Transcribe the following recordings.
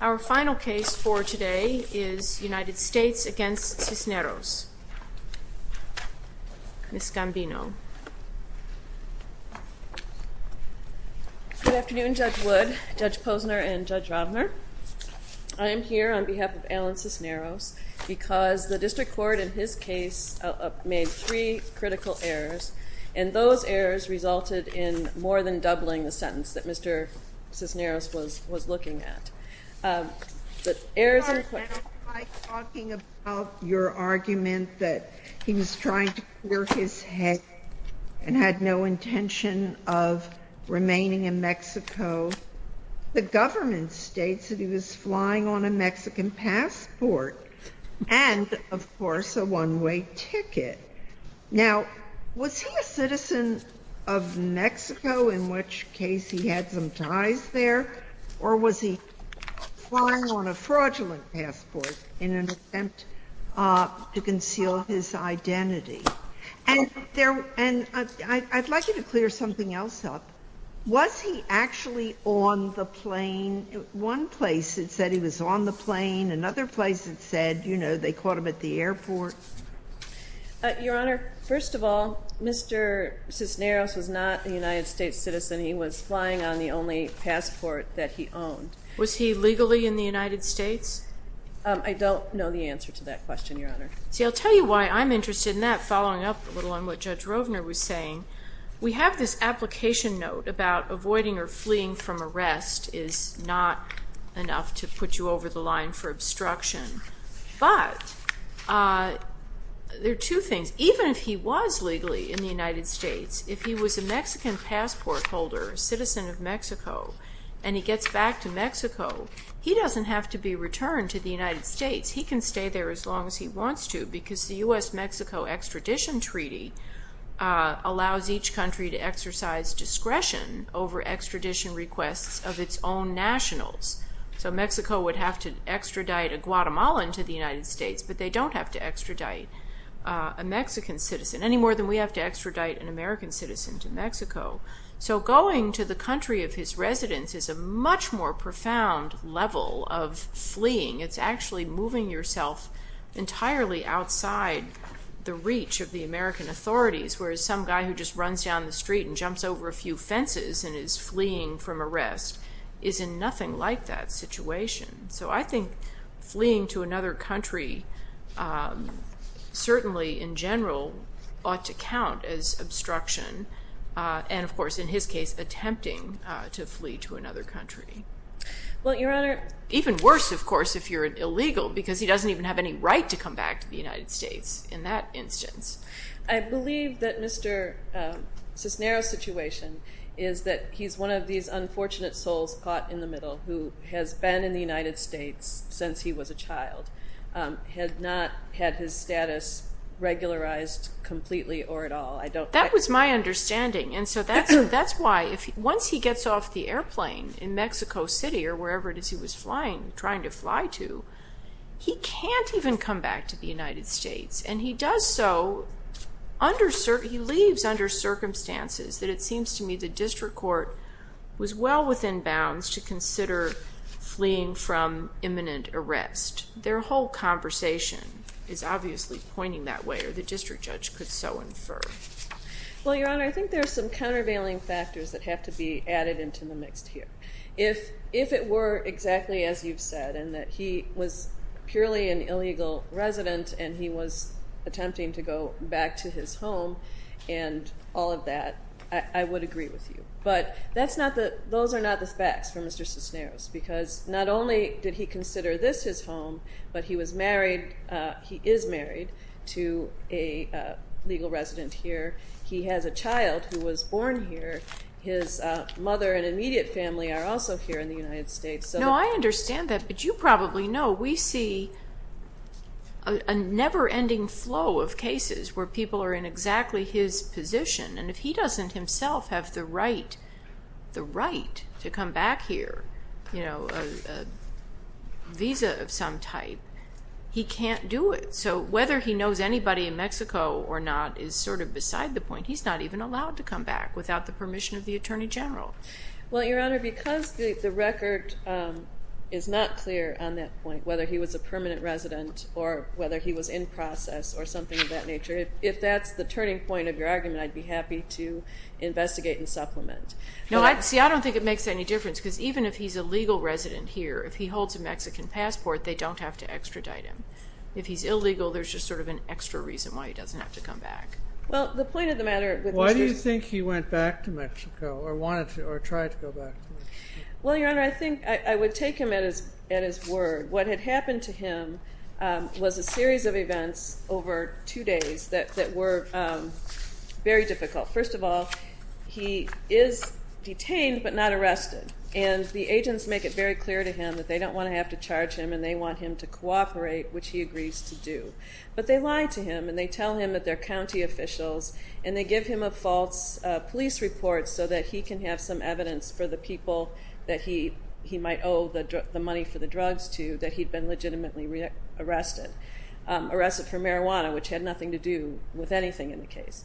Our final case for today is United States v. Cisneros. Ms. Gambino. Good afternoon, Judge Wood, Judge Posner, and Judge Robner. I am here on behalf of Alan Cisneros because the District Court in his case made three critical errors and those errors resulted in more than doubling the sentence that Mr. Cisneros was looking at. Before I start talking about his argument that he was trying to clear his head and had no intention of remaining in Mexico, the government states that he was flying on a Mexican passport and of course a one-way ticket. Now, was he a citizen of Mexico, in which case he had some ties there, or was he flying on a fraudulent passport in an attempt to conceal his identity? And I'd like you to clear something else up. Was he actually on the plane? One place it said he was on the plane, another place it said, you know, they caught him at the airport. Your Honor, first of all, Mr. Cisneros was not a United States citizen. He was flying on the only passport that he owned. Was he legally in the United States? I don't know the answer to that question, Your Honor. See, I'll tell you why I'm interested in that, following up a little on what Judge Rovner was saying. We have this application note about avoiding or fleeing from arrest is not enough to put you over the line for obstruction. But there are two things. Even if he was legally in the United States, if he was a Mexican passport holder, a citizen of Mexico, and he gets back to Mexico, he doesn't have to be returned to the United States. He can stay there as long as he wants to because the U.S.-Mexico Extradition Treaty allows each country to exercise discretion over extradition requests of its own nationals. So Mexico would have to extradite a Guatemalan to the United States, but they don't have to extradite a Mexican citizen any more than we have to extradite an American citizen to Mexico. So going to the country of his residence is a much more profound level of fleeing. It's actually moving yourself entirely outside the reach of the American authorities, whereas some guy who just runs down the street and jumps over a few fences and is fleeing from arrest is in nothing like that situation. So I think fleeing to another country certainly, in general, ought to count as obstruction and, of course, in his case, attempting to flee to another country. Well, Your Honor, even worse, of course, if you're illegal because he doesn't even have any right to come back to the United States in that instance. I believe that Mr. Cisneros' situation is that he's one of these unfortunate souls caught in the middle who has been in the United States since he was a child, had not had his status regularized completely or at all. That was my understanding, and so that's why once he gets off the airplane in Mexico City or wherever it is he was trying to fly to, he can't even come back to the United States. And he does so, he leaves under circumstances that it seems to me the district court was well within bounds to consider fleeing from imminent arrest. Their whole conversation is obviously pointing that way or the district judge could so infer. Well, Your Honor, I think there's some countervailing factors that have to be added into the mix here. If it were exactly as you've said and that he was purely an illegal resident and he was attempting to go back to his home and all of that, I would agree with you. But those are not the facts for Mr. Cisneros because not only did he consider this his home, but he is married to a legal resident here. He has a child who was born here. His mother and immediate family are also here in the United States. No, I understand that, but you probably know we see a never-ending flow of cases where people are in exactly his position. And if he doesn't himself have the right to come back here, a visa of some type, he can't do it. So whether he knows anybody in Mexico or not is sort of beside the point. He's not even allowed to come back without the permission of the Attorney General. Well, Your Honor, because the record is not clear on that point, whether he was a permanent resident or whether he was in process or something of that nature, if that's the turning point of your argument, I'd be happy to investigate and supplement. No, see, I don't think it makes any difference because even if he's a legal resident here, if he holds a Mexican passport, they don't have to extradite him. If he's illegal, there's just sort of an extra reason why he doesn't have to come back. Well, the point of the matter with Mr. Cisneros... Why do you think he went back to Mexico or wanted to or tried to go back to Mexico? Well, Your Honor, I think I would take him at his word. What had happened to him was a series of events over two days that were very difficult. First of all, he is detained but not arrested. And the agents make it very clear to him that they don't want to have to charge him and they want him to cooperate, which he agrees to do. But they lie to him and they tell him that they're county officials and they give him a false police report so that he can have some evidence for the people that he might owe the money for the drugs to that he'd been legitimately arrested. Arrested for marijuana, which had nothing to do with anything in the case.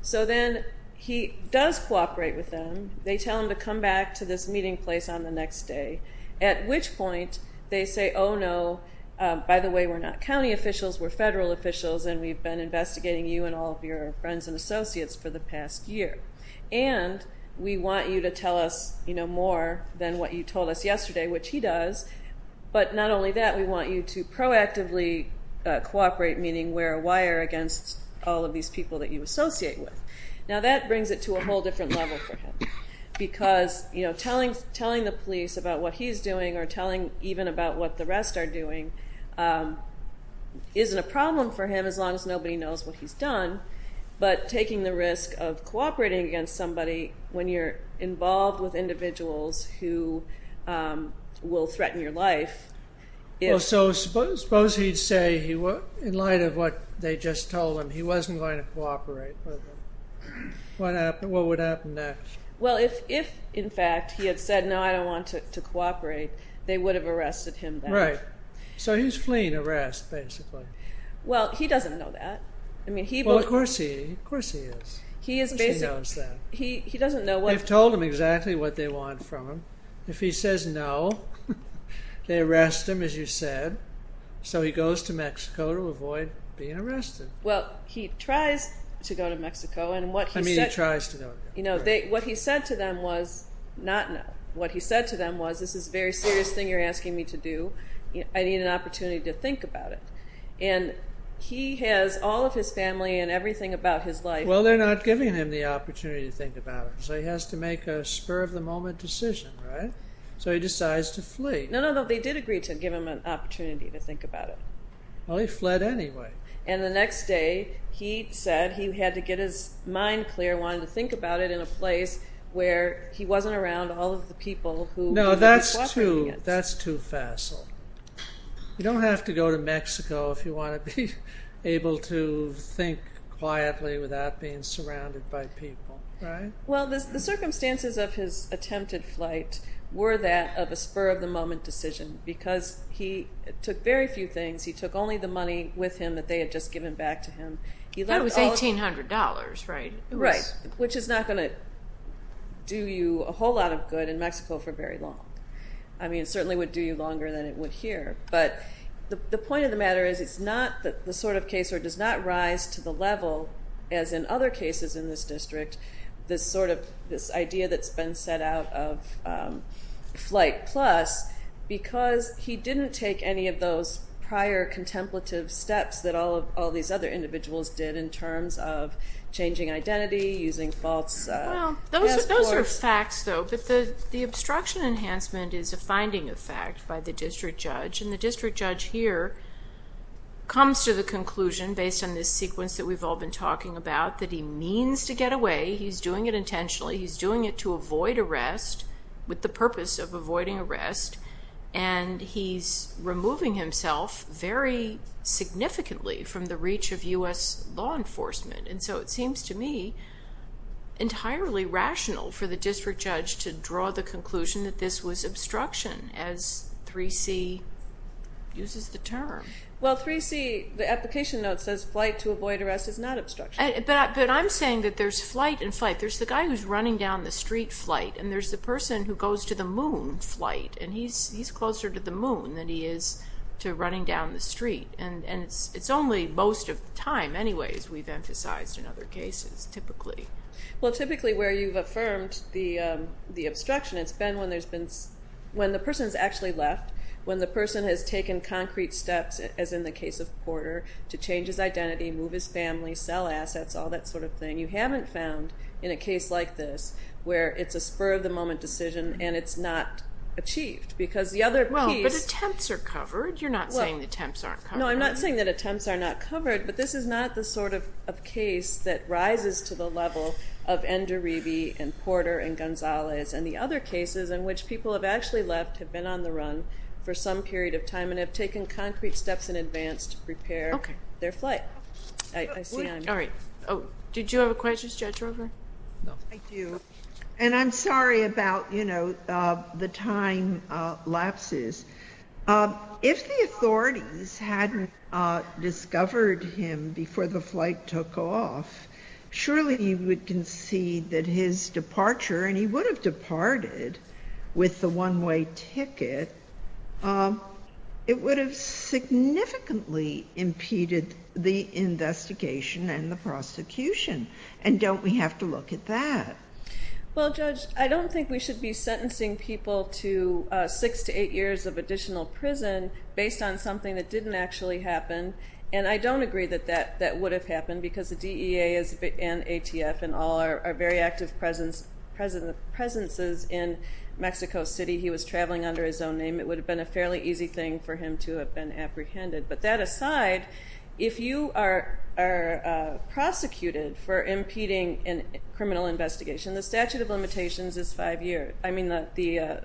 So then he does cooperate with them. They tell him to come back to this meeting place on the next day. At which point they say, oh no, by the way, we're not county officials, we're federal officials and we've been investigating you and all of your friends and associates for the past year. And we want you to tell us more than what you told us yesterday, which he does. But not only that, we want you to proactively cooperate, meaning wear a wire against all of these people that you associate with. Now that brings it to a whole different level for him. Because telling the police about what he's doing or telling even about what the rest are doing isn't a problem for him as long as nobody knows what he's done. But taking the risk of cooperating against somebody when you're involved with individuals who will threaten your life. So suppose he'd say, in light of what they just told him, he wasn't going to cooperate with them. What would happen next? Well, if in fact he had said, no, I don't want to cooperate, they would have arrested him then. Right. So he's fleeing arrest, basically. Well, he doesn't know that. Well, of course he is. He is basically... He doesn't know what... They've told him exactly what they want from him. If he says no, they arrest him, as you said. So he goes to Mexico to avoid being arrested. Well, he tries to go to Mexico and what he said... What he said to them was, not no. What he said to them was, this is a very serious thing you're asking me to do. I need an opportunity to think about it. And he has all of his family and everything about his life... Well, they're not giving him the opportunity to think about it. So he has to make a spur-of-the-moment decision, right? So he decides to flee. No, no, no. They did agree to give him an opportunity to think about it. Well, he fled anyway. And the next day, he said he had to get his mind clear. He wanted to think about it in a place where he wasn't around all of the people... No, that's too facile. You don't have to go to Mexico if you want to be able to think quietly without being surrounded by people. Well, the circumstances of his attempted flight were that of a spur-of-the-moment decision. Because he took very few things. He took only the money with him that they had just given back to him. That was $1,800, right? Right. Which is not going to do you a whole lot of good in Mexico for very long. I mean, it certainly would do you longer than it would here. But the point of the matter is, it's not the sort of case where it does not rise to the level, as in other cases in this district, this idea that's been set out of Flight Plus, because he didn't take any of those prior contemplative steps that all these other individuals did in terms of changing identity, using false passport... Well, those are facts, though. But the obstruction enhancement is a finding of fact by the district judge. And the district judge here comes to the conclusion, based on this sequence that we've all been talking about, that he means to get away. He's doing it intentionally. He's doing it to avoid arrest, with the purpose of avoiding arrest. And he's removing himself very significantly from the reach of U.S. law enforcement. And so it seems to me entirely rational for the district judge to draw the conclusion that this was obstruction, as 3C uses the term. Well, 3C, the application note says, flight to avoid arrest is not obstruction. But I'm saying that there's flight and flight. There's the guy who's running down the street, flight. And there's the person who goes to the moon, flight. And he's closer to the moon than he is to running down the street. And it's only most of the time, anyway, as we've emphasized in other cases, typically. Well, typically where you've affirmed the obstruction, it's been when the person's actually left, when the person has taken concrete steps, as in the case of Porter, to change his identity, move his family, sell assets, all that sort of thing. And you haven't found, in a case like this, where it's a spur-of-the-moment decision and it's not achieved, because the other piece... Well, but attempts are covered. You're not saying the attempts aren't covered. No, I'm not saying that attempts are not covered. But this is not the sort of case that rises to the level of N'Duribi and Porter and Gonzalez. And the other cases in which people have actually left have been on the run for some period of time and have taken concrete steps in advance to prepare their flight. I see. All right. Did you have a question, Judge Roper? No. Thank you. And I'm sorry about, you know, the time lapses. If the authorities hadn't discovered him before the flight took off, surely you would concede that his departure, and he would have departed with the one-way ticket, it would have significantly impeded the investigation and the prosecution. And don't we have to look at that? Well, Judge, I don't think we should be sentencing people to six to eight years of additional prison based on something that didn't actually happen. And I don't agree that that would have happened, because the DEA and ATF and all are very active presences in Mexico City. He was traveling under his own name. It would have been a fairly easy thing for him to have been apprehended. But that aside, if you are prosecuted for impeding a criminal investigation, the statute of limitations is five years. I mean, the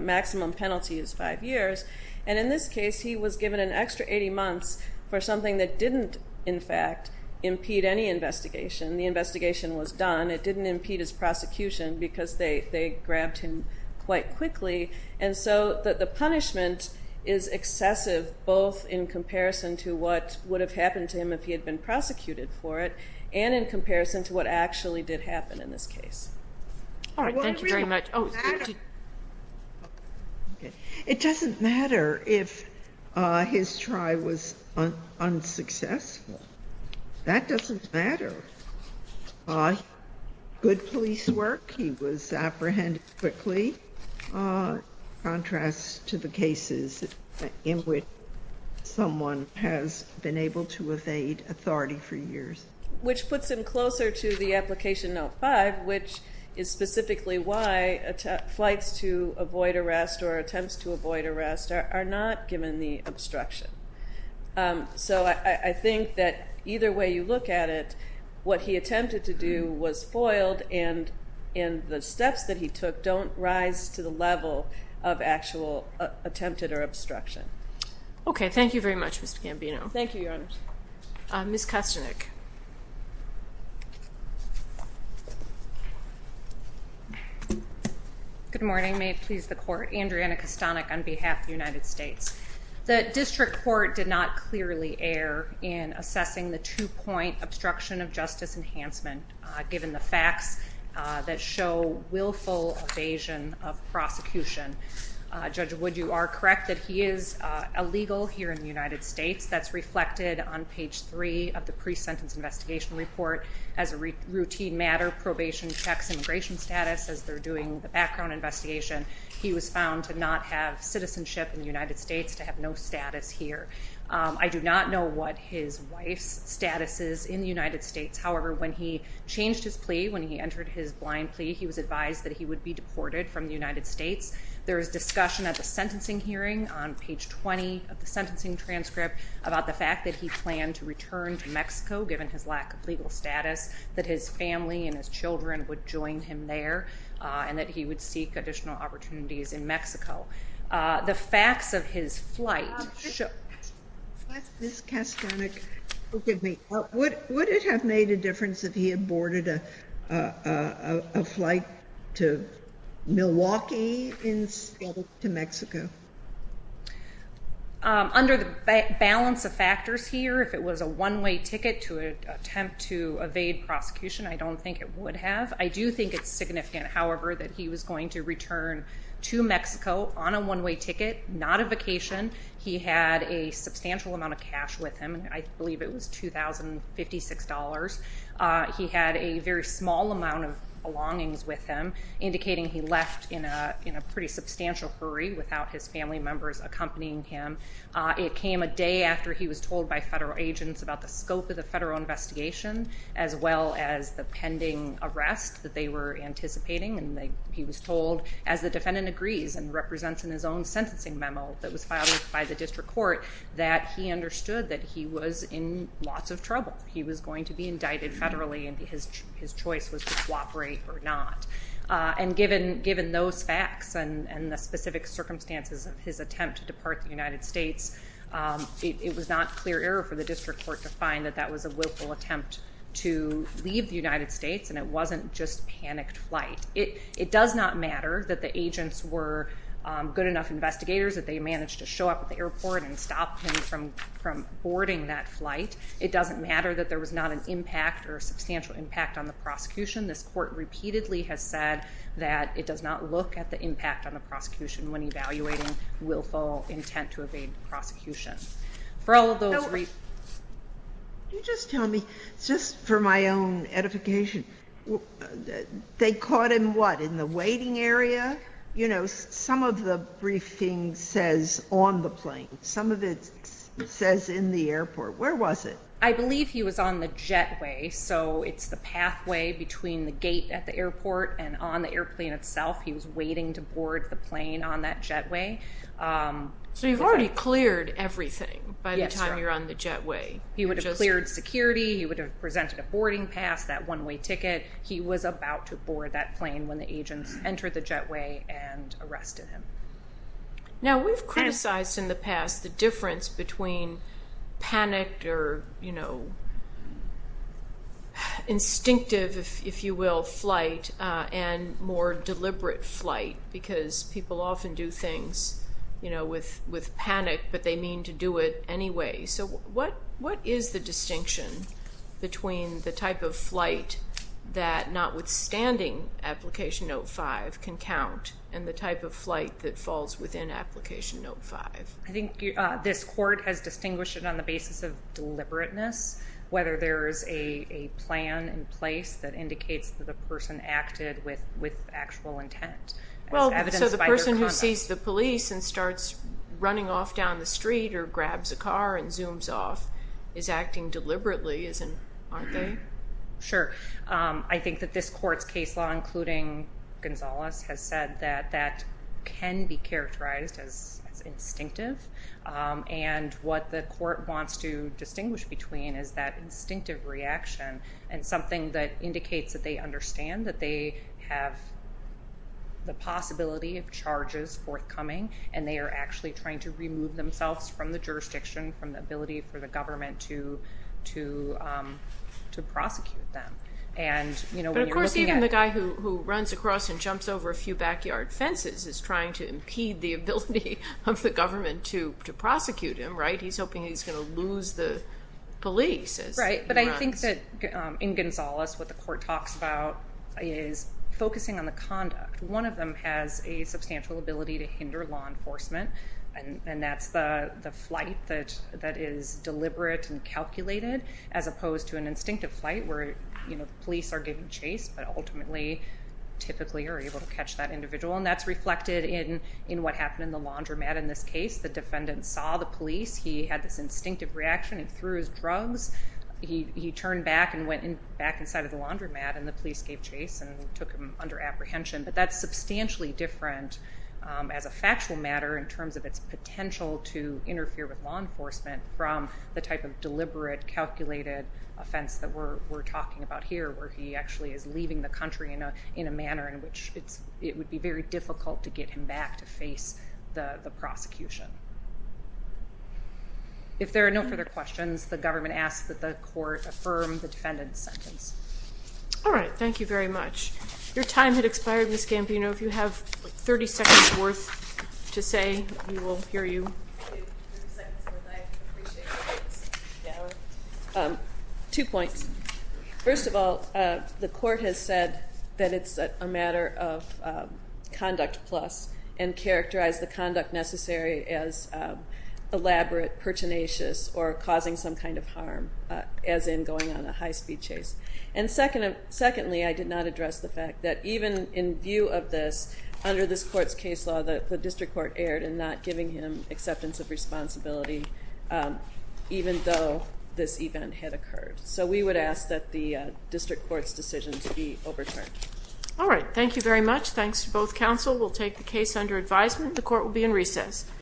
maximum penalty is five years. And in this case, he was given an extra 80 months for something that didn't, in fact, impede any investigation. The investigation was done. It didn't impede his prosecution, because they grabbed him quite quickly. And so the punishment is excessive, both in comparison to what would have happened to him if he had been prosecuted for it, and in comparison to what actually did happen in this case. It doesn't matter if his try was unsuccessful. That doesn't matter. Good police work. He was apprehended quickly, in contrast to the cases in which someone has been able to evade authority for years. Which puts him closer to the Application Note 5, which is specifically why flights to avoid arrest or attempts to avoid arrest are not given the obstruction. So I think that either way you look at it, what he attempted to do was foiled, and the steps that he took don't rise to the level of actual attempted or obstruction. Okay. Thank you very much, Ms. Gambino. Thank you, Your Honor. Ms. Kastanek. Good morning. May it please the Court. Andriana Kastanek on behalf of the United States. The District Court did not clearly err in assessing the two-point obstruction of justice enhancement, given the facts that show willful evasion of prosecution. Judge Wood, you are correct that he is illegal here in the United States. That's reflected on page 3 of the pre-sentence investigation report. As a routine matter, probation checks immigration status as they're doing the background investigation. He was found to not have citizenship in the United States, to have no status here. I do not know what his wife's status is in the United States. However, when he changed his plea, when he entered his blind plea, he was advised that he would be deported from the United States. There was discussion at the sentencing hearing on page 20 of the sentencing transcript about the fact that he planned to return to Mexico, given his lack of legal status, that his family and his children would join him there, and that he would seek additional opportunities in Mexico. The facts of his flight... Would it have made a difference if he aborted a flight to Milwaukee instead of to Mexico? Under the balance of factors here, if it was a one-way ticket to attempt to evade prosecution, I don't think it would have. I do think it's significant, however, that he was going to return to Mexico on a one-way ticket, not a vacation. He had a substantial amount of cash with him. I believe it was $2,056. He had a very small amount of belongings with him, indicating he left in a pretty substantial hurry without his family members accompanying him. It came a day after he was told by federal agents about the scope of the federal investigation, as well as the pending arrest that they were anticipating. He was told, as the defendant agrees and represents in his own sentencing memo, that was filed by the district court, that he understood that he was in lots of trouble. He was going to be indicted federally, and his choice was to cooperate or not. Given those facts and the specific circumstances of his attempt to depart the United States, it was not clear error for the district court to find that that was a willful attempt to leave the United States, and it wasn't just panicked flight. It does not matter that the agents were good enough investigators that they managed to show up at the airport and stop him from boarding that flight. It doesn't matter that there was not an impact or substantial impact on the prosecution. This court repeatedly has said that it does not look at the impact on the prosecution when evaluating willful intent to evade prosecution. For all of those reasons... Can you just tell me, just for my own edification, they caught him, what, in the waiting area? You know, some of the briefing says on the plane. Some of it says in the airport. Where was it? I believe he was on the jetway, so it's the pathway between the gate at the airport and on the airplane itself. He was waiting to board the plane on that jetway. So you've already cleared everything by the time you're on the jetway. He would have cleared security. He would have presented a boarding pass, that one-way ticket. He was about to board that plane when the agents entered the jetway and arrested him. Now, we've criticized in the past the difference between panicked or, you know, and more deliberate flight, because people often do things, you know, with panic, but they mean to do it anyway. So what is the distinction between the type of flight that notwithstanding Application Note 5 can count and the type of flight that falls within Application Note 5? I think this court has distinguished it on the basis of deliberateness, whether there is a plan in place that indicates that the person acted with actual intent. So the person who sees the police and starts running off down the street or grabs a car and zooms off is acting deliberately, aren't they? Sure. I think that this court's case law, including Gonzalez, has said that that can be characterized as instinctive, and what the court wants to distinguish between is that instinctive reaction and something that indicates that they understand that they have the possibility of charges forthcoming, and they are actually trying to remove themselves from the jurisdiction, from the ability for the government to prosecute them. Of course, even the guy who runs across and jumps over a few backyard fences is trying to impede the ability of the government to prosecute him, right? He's hoping he's going to lose the police. Right, but I think that in Gonzalez, what the court talks about is focusing on the conduct. One of them has a substantial ability to hinder law enforcement, and that's the flight that is deliberate and calculated, as opposed to an instinctive flight where the police are getting chased, but ultimately typically are able to catch that individual, and that's reflected in what happened in the laundromat in this case. The defendant saw the police. He had this instinctive reaction and threw his drugs. He turned back and went back inside of the laundromat, and the police gave chase and took him under apprehension, but that's substantially different as a factual matter in terms of its potential to interfere with law enforcement from the type of deliberate calculated offense that we're talking about here, where he actually is leaving the country in a manner in which it would be very difficult to get him back to face the prosecution. If there are no further questions, the government asks that the court affirm the defendant's sentence. Alright, thank you very much. Your time has expired, Ms. Gambino. If you have 30 seconds worth to say, we will hear you. Two points. First of all, the court has said that it's a matter of conduct plus, and it's not as elaborate, pertinacious, or causing some kind of harm as in going on a high-speed chase. And secondly, I did not address the fact that even in view of this, under this court's case law, the district court erred in not giving him acceptance of responsibility even though this event had occurred. So we would ask that the district court's decision be overturned. Alright, thank you very much. Thanks to both counsel. We'll take the case under advisement. The court will be in recess.